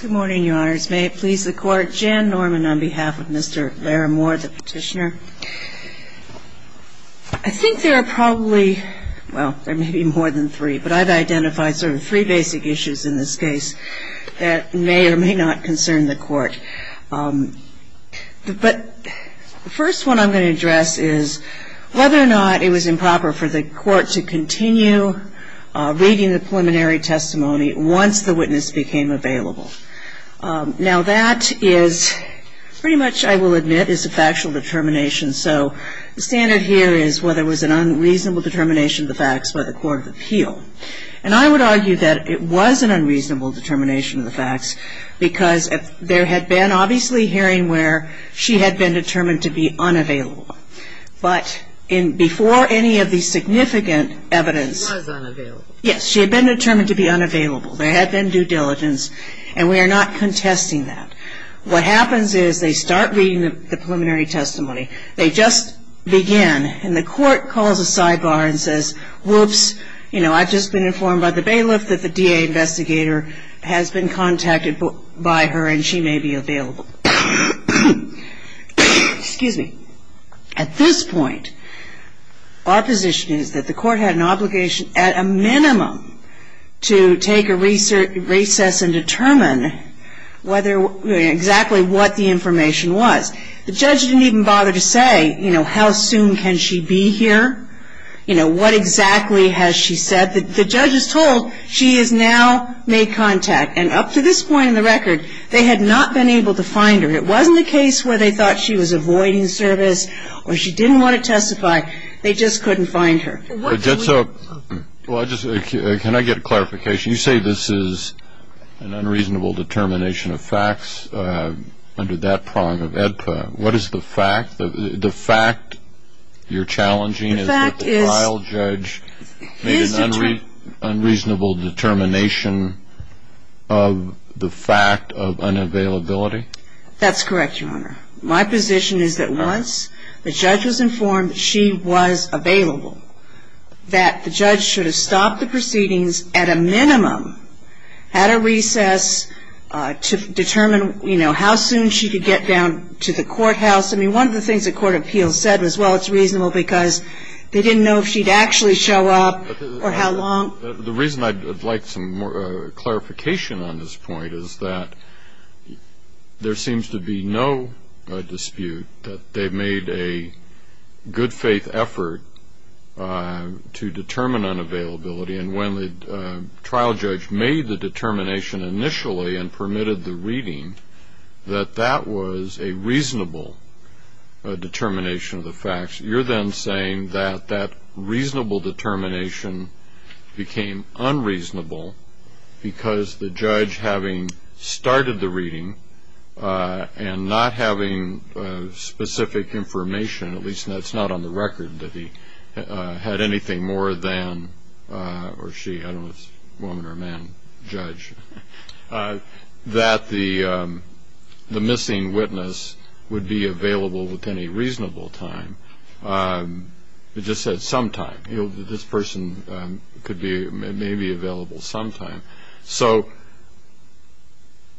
Good morning, Your Honors. May it please the Court, Jan Norman on behalf of Mr. Larrimore, the petitioner. I think there are probably, well, there may be more than three, but I've identified sort of three basic issues in this case that may or may not concern the Court. But the first one I'm going to address is whether or not it was improper for the Court to continue reading the preliminary testimony once the witness became available. Now that is pretty much, I will admit, is a factual determination. So the standard here is whether it was an unreasonable determination of the facts by the Court of Appeal. And I would argue that it was an unreasonable determination of the facts because there had been obviously hearing where she had been determined to be unavailable. But before any of the significant evidence... She was unavailable. Yes, she had been determined to be unavailable. There had been due diligence and we are not contesting that. What happens is they start reading the preliminary testimony. They just begin and the Court calls a sidebar and says, whoops, you know, I've just been informed by the bailiff that the DA investigator has been contacted by her and she may be available. Excuse me. At this point, our position is that the Court had an obligation at a minimum to take a recess and determine exactly what the information was. The judge didn't even bother to say, you know, how soon can she be here? You know, what exactly has she said? The judge is told she has now made contact. And up to this point in the record, they had not been able to find her. It wasn't a case where they thought she was avoiding service or she didn't want to testify. They just couldn't find her. Can I get a clarification? You say this is an unreasonable determination of facts under that prong of AEDPA. What is the fact? The fact you're challenging is that the trial judge made an unreasonable determination of the fact of unavailability? That's correct, Your Honor. My position is that once the judge was informed she was available, that the judge should have stopped the proceedings at a minimum, had a recess to determine, you know, how soon she could get down to the courthouse. I mean, one of the things the court of appeals said was, well, it's reasonable because they didn't know if she'd actually show up or how long. The reason I'd like some more clarification on this point is that there seems to be no dispute that they made a good faith effort to determine unavailability. And when the trial judge made the determination initially and permitted the reading, that that was a reasonable determination of the facts. You're then saying that that reasonable determination became unreasonable because the judge, having started the reading and not having specific information, at least that's not on the record, that he had anything more than, or she, I don't know if it's woman or man, judge, that the missing witness would be available within a reasonable time. It just said sometime. This person could be maybe available sometime. So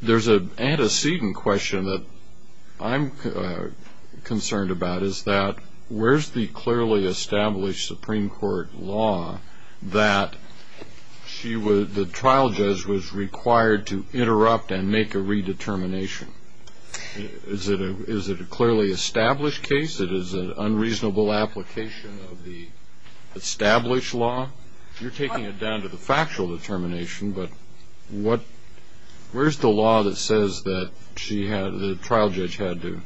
there's an antecedent question that I'm concerned about is that where's the clearly established Supreme Court law that the trial judge was required to interrupt and make a redetermination? Is it a clearly established case? It is an unreasonable application of the established law? You're taking it down to the factual determination. But what, where's the law that says that she had, the trial judge had to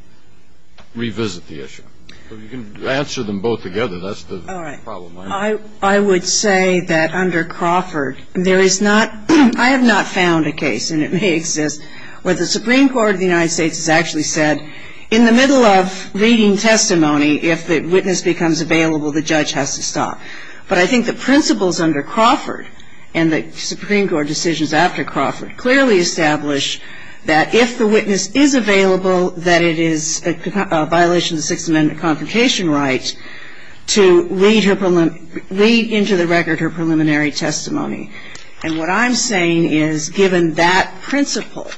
revisit the issue? You can answer them both together. That's the problem. All right. I would say that under Crawford, there is not, I have not found a case, and it may exist, where the Supreme Court of the United States has actually said in the middle of reading testimony, if the witness becomes available, the judge has to stop. But I think the principles under Crawford and the Supreme Court decisions after Crawford clearly establish that if the witness is available, that it is a violation of the Sixth Amendment confrontation right to lead into the record her preliminary testimony. And what I'm saying is, given that principle,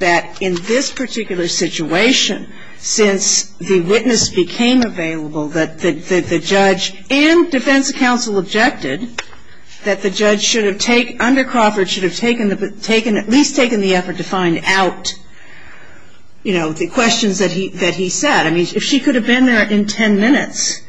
that in this particular situation, since the witness became available, that the judge and defense counsel objected that the judge should have taken, under Crawford, should have taken, at least taken the effort to find out, you know, the questions that he said. I mean, if she could have been there in 10 minutes,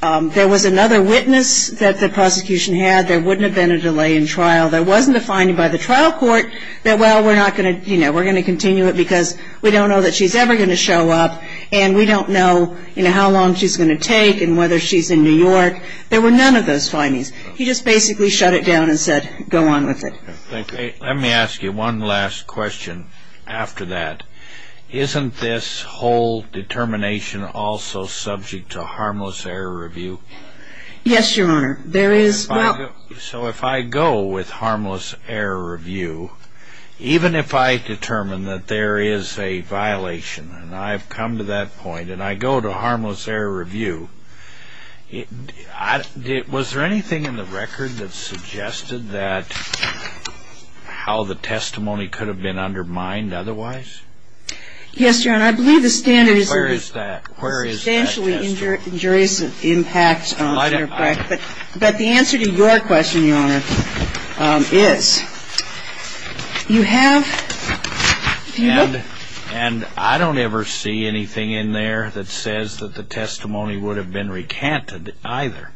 there was another witness that the prosecution had, there wouldn't have been a delay in trial. There wasn't a finding by the trial court that, well, we're not going to, you know, we're going to continue it because we don't know that she's ever going to show up, and we don't know, you know, how long she's going to take and whether she's in New York. There were none of those findings. He just basically shut it down and said, go on with it. Let me ask you one last question after that. Isn't this whole determination also subject to harmless error review? Yes, Your Honor. So if I go with harmless error review, even if I determine that there is a violation, and I've come to that point, and I go to harmless error review, was there anything in the record that suggested that, how the testimony could have been undermined otherwise? Yes, Your Honor. I believe the standards are substantially injurious in impact. But the answer to your question, Your Honor, is you have the evidence. And I don't ever see anything in there that says that the testimony would have been recanted either.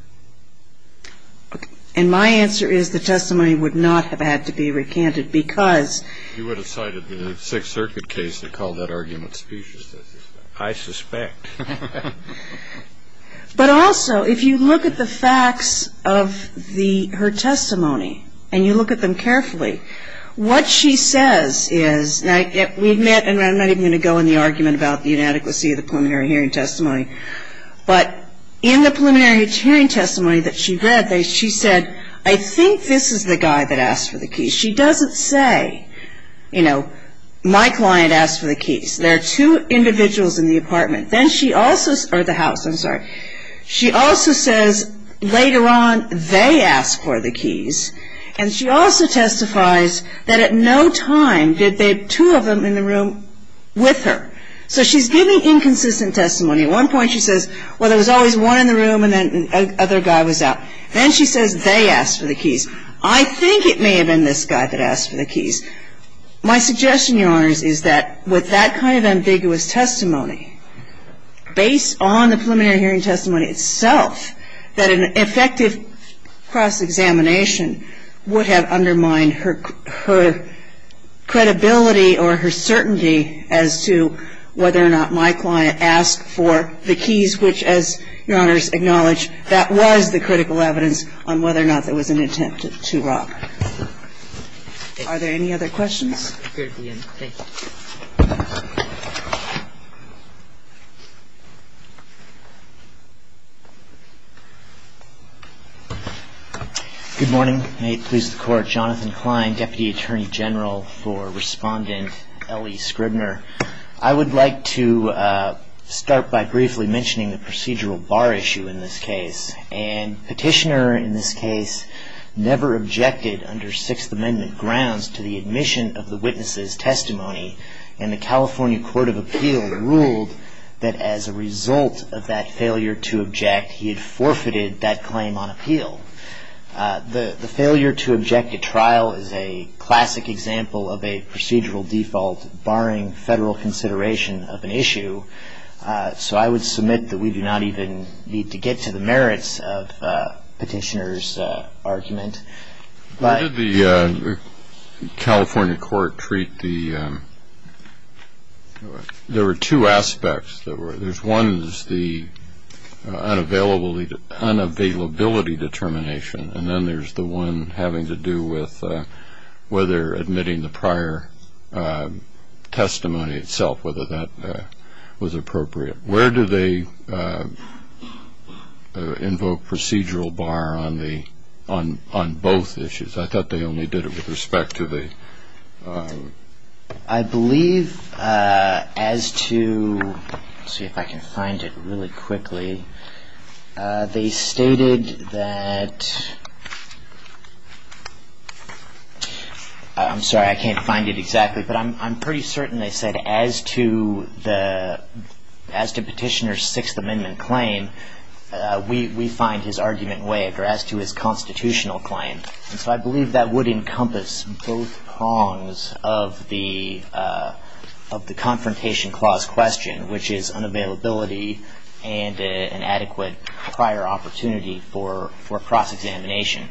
And my answer is the testimony would not have had to be recanted because... You would have cited the Sixth Circuit case to call that argument specious. I suspect. But also, if you look at the facts of her testimony, and you look at them carefully, what she says is, and I'm not even going to go into the argument about the inadequacy of the preliminary hearing testimony, but in the preliminary hearing testimony that she read, she said, I think this is the guy that asked for the keys. She doesn't say, you know, my client asked for the keys. There are two individuals in the apartment. Then she also, or the house, I'm sorry. She also says, later on, they asked for the keys. And she also testifies that at no time did they, two of them in the room, with her. So she's giving inconsistent testimony. At one point she says, well, there was always one in the room and then another guy was out. Then she says they asked for the keys. My suggestion, Your Honors, is that with that kind of ambiguous testimony, based on the preliminary hearing testimony itself, that an effective cross-examination would have undermined her credibility or her certainty as to whether or not my client asked for the keys, which, as Your Honors acknowledge, that was the critical evidence on whether or not there was an attempt to rob. Are there any other questions? We're at the end. Thank you. Good morning. May it please the Court. Jonathan Klein, Deputy Attorney General for Respondent Ellie Scribner. I would like to start by briefly mentioning the procedural bar issue in this case. And Petitioner, in this case, never objected under Sixth Amendment grounds to the admission of the witness's testimony. And the California Court of Appeal ruled that as a result of that failure to object, he had forfeited that claim on appeal. The failure to object at trial is a classic example of a procedural default, barring Federal consideration of an issue. So I would submit that we do not even need to get to the merits of Petitioner's argument. How did the California Court treat the – there were two aspects. One is the unavailability determination, and then there's the one having to do with whether admitting the prior testimony itself, whether that was appropriate. Where do they invoke procedural bar on both issues? I thought they only did it with respect to the – I believe as to – let's see if I can find it really quickly. They stated that – I'm sorry, I can't find it exactly. But I'm pretty certain they said as to Petitioner's Sixth Amendment claim, we find his argument waived, or as to his constitutional claim. And so I believe that would encompass both prongs of the Confrontation Clause question, which is unavailability and an adequate prior opportunity for cross-examination.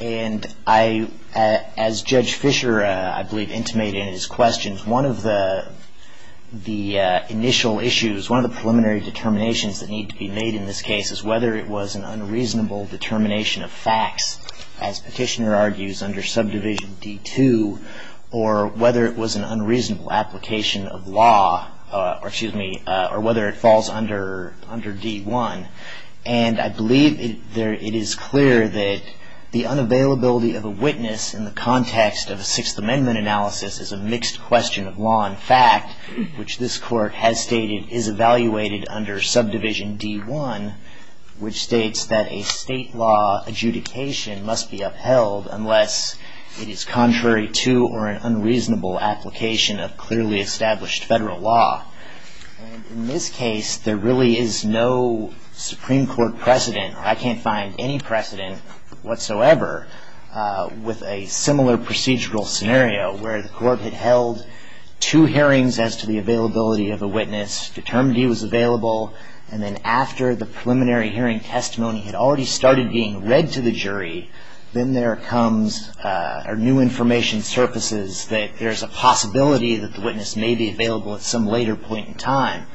And I – as Judge Fischer, I believe, intimated in his questions, one of the initial issues, one of the preliminary determinations that need to be made in this case is whether it was an unreasonable determination of facts, as Petitioner argues, under Subdivision D-2, or whether it was an unreasonable application of law, or whether it falls under D-1. And I believe it is clear that the unavailability of a witness in the context of a Sixth Amendment analysis is a mixed question of law and fact, which this Court has stated is evaluated under Subdivision D-1, which states that a state law adjudication must be upheld unless it is contrary to or an unreasonable application of clearly established federal law. In this case, there really is no Supreme Court precedent, or I can't find any precedent whatsoever with a similar procedural scenario where the Court had held two hearings as to the availability of a witness, determined he was available, and then after the preliminary hearing testimony had already started being read to the jury, then there comes – or new information surfaces that there's a possibility that the witness may be available at some later point in time.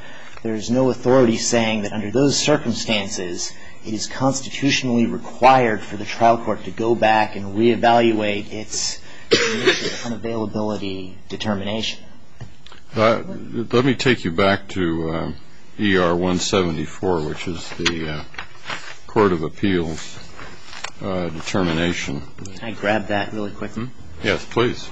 There is no authority saying that under those circumstances, it is constitutionally required for the trial court to go back and reevaluate its unavailability determination. Let me take you back to ER 174, which is the Court of Appeals determination. Can I grab that really quickly? Yes, please.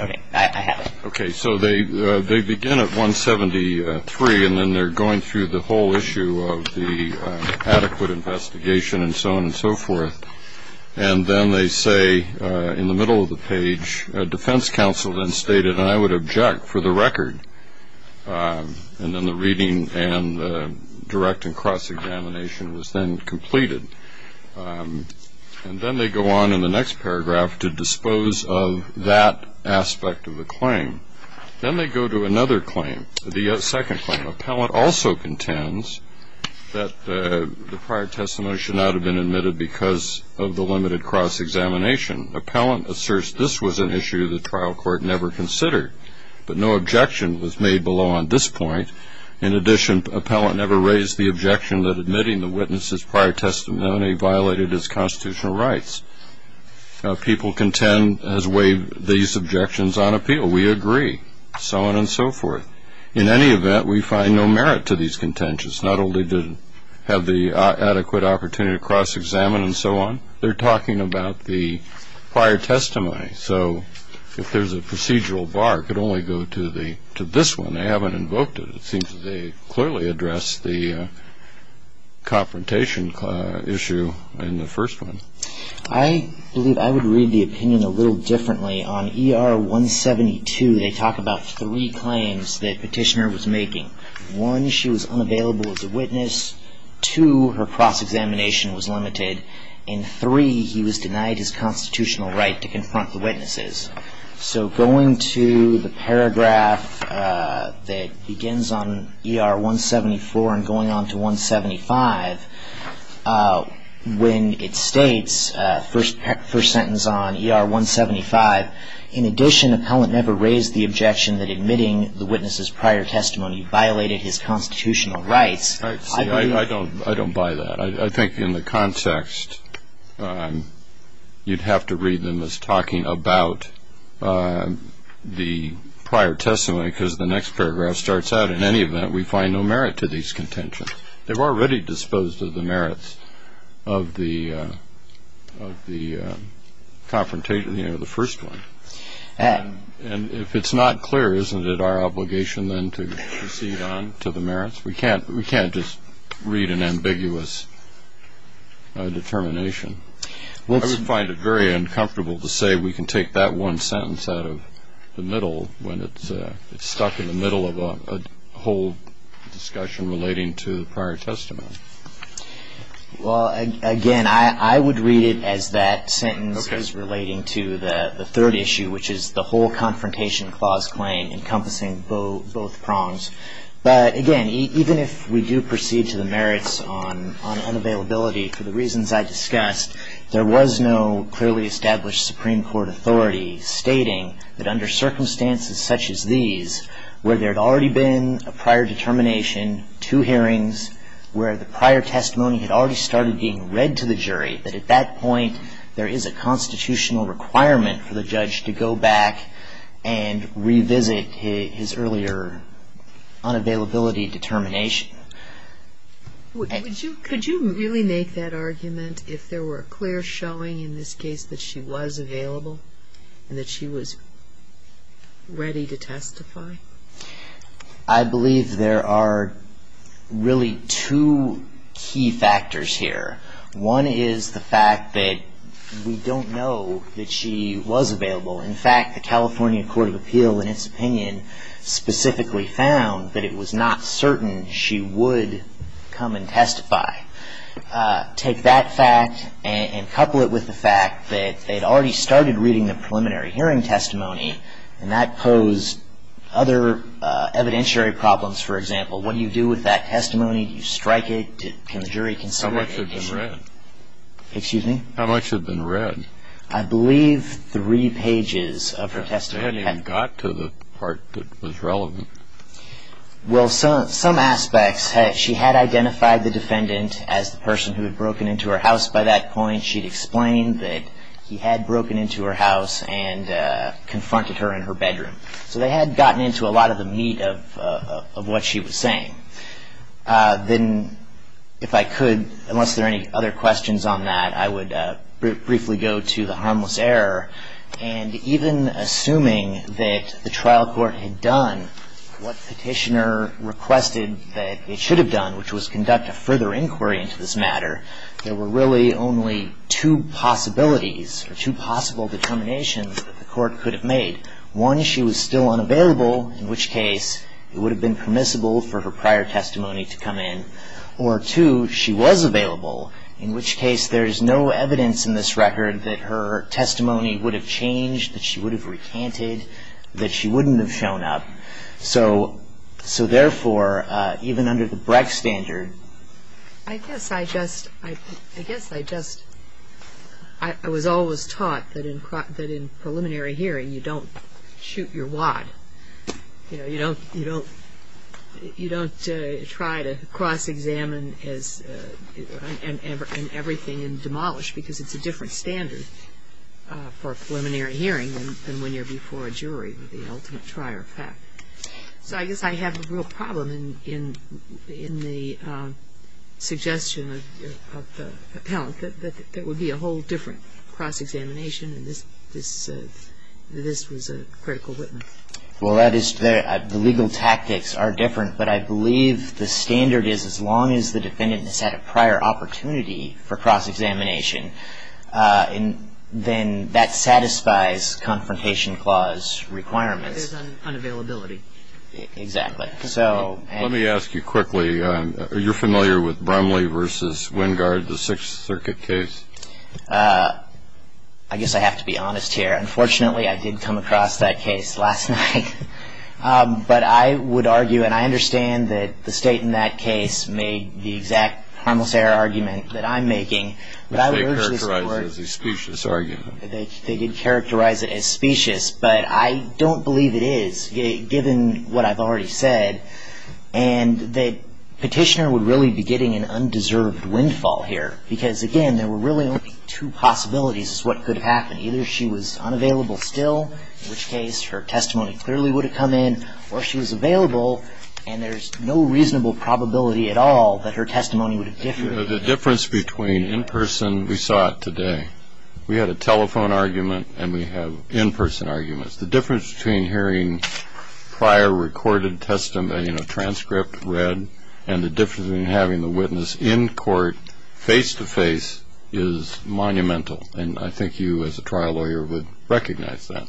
Okay. I have it. Okay. So they begin at 173, and then they're going through the whole issue of the adequate investigation and so on and so forth. And then they say in the middle of the page, defense counsel then stated, and I would object for the record. And then the reading and the direct and cross-examination was then completed. And then they go on in the next paragraph to dispose of that aspect of the claim. Then they go to another claim, the second claim. Appellant also contends that the prior testimony should not have been admitted because of the limited cross-examination. Appellant asserts this was an issue the trial court never considered, but no objection was made below on this point. In addition, appellant never raised the objection that admitting the witness's prior testimony violated his constitutional rights. People contend as waived these objections on appeal. We agree, so on and so forth. In any event, we find no merit to these contentions, not only to have the adequate opportunity to cross-examine and so on. They're talking about the prior testimony. So if there's a procedural bar, it could only go to this one. They haven't invoked it. It seems that they clearly addressed the confrontation issue in the first one. I believe I would read the opinion a little differently. On ER 172, they talk about three claims that Petitioner was making. One, she was unavailable as a witness. Two, her cross-examination was limited. And three, he was denied his constitutional right to confront the witnesses. So going to the paragraph that begins on ER 174 and going on to 175, when it states, first sentence on ER 175, in addition appellant never raised the objection that admitting the witness's prior testimony violated his constitutional rights. I don't buy that. I think in the context, you'd have to read them as talking about the prior testimony because the next paragraph starts out, in any event, we find no merit to these contentions. They've already disposed of the merits of the confrontation in the first one. And if it's not clear, isn't it our obligation then to proceed on to the merits? We can't just read an ambiguous determination. I would find it very uncomfortable to say we can take that one sentence out of the middle when it's stuck in the middle of a whole discussion relating to the prior testimony. Well, again, I would read it as that sentence is relating to the third issue, which is the whole confrontation clause claim encompassing both prongs. But, again, even if we do proceed to the merits on unavailability, for the reasons I discussed, there was no clearly established Supreme Court authority stating that under circumstances such as these, where there had already been a prior determination, two hearings, where the prior testimony had already started being read to the jury, that at that point there is a constitutional requirement for the judge to go back and revisit his earlier unavailability determination. Could you really make that argument if there were a clear showing in this case that she was available and that she was ready to testify? I believe there are really two key factors here. One is the fact that we don't know that she was available. In fact, the California Court of Appeal, in its opinion, specifically found that it was not certain she would come and testify. Take that fact and couple it with the fact that they had already started reading the preliminary hearing testimony and that posed other evidentiary problems. For example, what do you do with that testimony? Do you strike it? Can the jury consider it? How much had been read? Excuse me? How much had been read? I believe three pages of her testimony. She hadn't even got to the part that was relevant. Well, some aspects. She had identified the defendant as the person who had broken into her house by that point. She had explained that he had broken into her house and confronted her in her bedroom. So they had gotten into a lot of the meat of what she was saying. Then if I could, unless there are any other questions on that, I would briefly go to the harmless error. And even assuming that the trial court had done what Petitioner requested that it should have done, which was conduct a further inquiry into this matter, there were really only two possibilities or two possible determinations that the court could have made. One, she was still unavailable, in which case it would have been permissible for her prior testimony to come in. Or two, she was available, in which case there is no evidence in this record that her testimony would have changed, that she would have recanted, that she wouldn't have shown up. So therefore, even under the Brecht standard. I guess I just, I guess I just, I was always taught that in preliminary hearing you don't shoot your wad. You know, you don't, you don't, you don't try to cross-examine as, and everything and demolish because it's a different standard for a preliminary hearing than when you're before a jury with the ultimate trier of fact. So I guess I have a real problem in the suggestion of the appellant that there would be a whole different cross-examination and this, this, this was a critical Whitman. Well, that is, the legal tactics are different, but I believe the standard is as long as the defendant has had a prior opportunity for cross-examination, then that satisfies Confrontation Clause requirements. There's unavailability. Exactly. So. Let me ask you quickly, are you familiar with Bromley v. Wingard, the Sixth Circuit case? I guess I have to be honest here. Unfortunately, I did come across that case last night, but I would argue, and I understand that the State in that case made the exact harmless error argument that I'm making. Which they characterized as a specious argument. They did characterize it as specious, but I don't believe it is, given what I've already said, and that Petitioner would really be getting an undeserved windfall here, because, again, there were really only two possibilities as to what could have happened. Either she was unavailable still, in which case her testimony clearly would have come in, or she was available and there's no reasonable probability at all that her testimony would have differed. The difference between in person, we saw it today. We had a telephone argument and we have in person arguments. The difference between hearing prior recorded testimony, you know, transcript read, and the difference between having the witness in court face-to-face is monumental, and I think you as a trial lawyer would recognize that.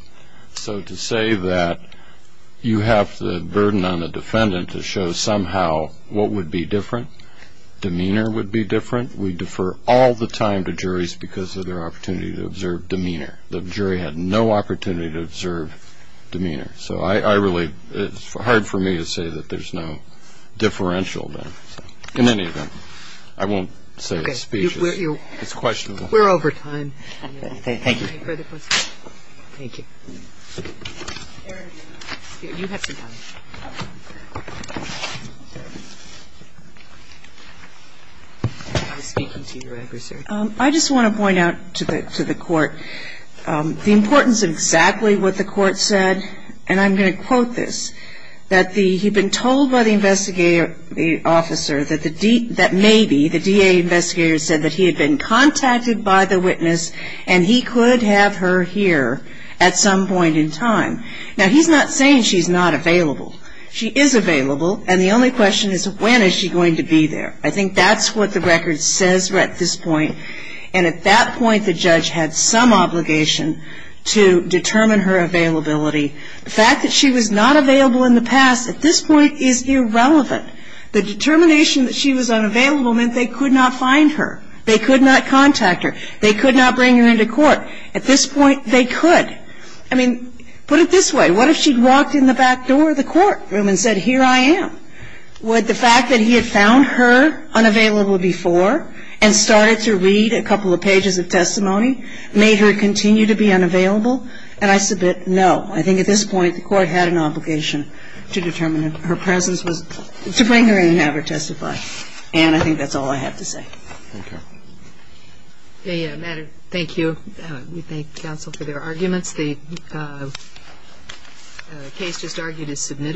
So to say that you have the burden on the defendant to show somehow what would be different, demeanor would be different, we defer all the time to juries because of their opportunity to observe demeanor. The jury had no opportunity to observe demeanor. So I really, it's hard for me to say that there's no differential there. In any event, I won't say the speech is questionable. We're over time. Thank you. Any further questions? Thank you. You have some time. I was speaking to your adversary. I just want to point out to the Court the importance of exactly what the Court said and I'm going to quote this, that he'd been told by the investigator, the officer, that maybe the DA investigator said that he had been contacted by the witness and he could have her here at some point in time. Now, he's not saying she's not available. She is available, and the only question is when is she going to be there? I think that's what the record says at this point, and at that point the judge had some obligation to determine her availability. The fact that she was not available in the past at this point is irrelevant. The determination that she was unavailable meant they could not find her. They could not contact her. They could not bring her into court. At this point, they could. I mean, put it this way. What if she'd walked in the back door of the courtroom and said, here I am? Would the fact that he had found her unavailable before and started to read a couple of pages of testimony made her continue to be unavailable? And I submit no. I think at this point the Court had an obligation to determine her presence, to bring her in and have her testify. And I think that's all I have to say. Thank you. Madam, thank you. We thank counsel for their arguments. The case just argued is submitted.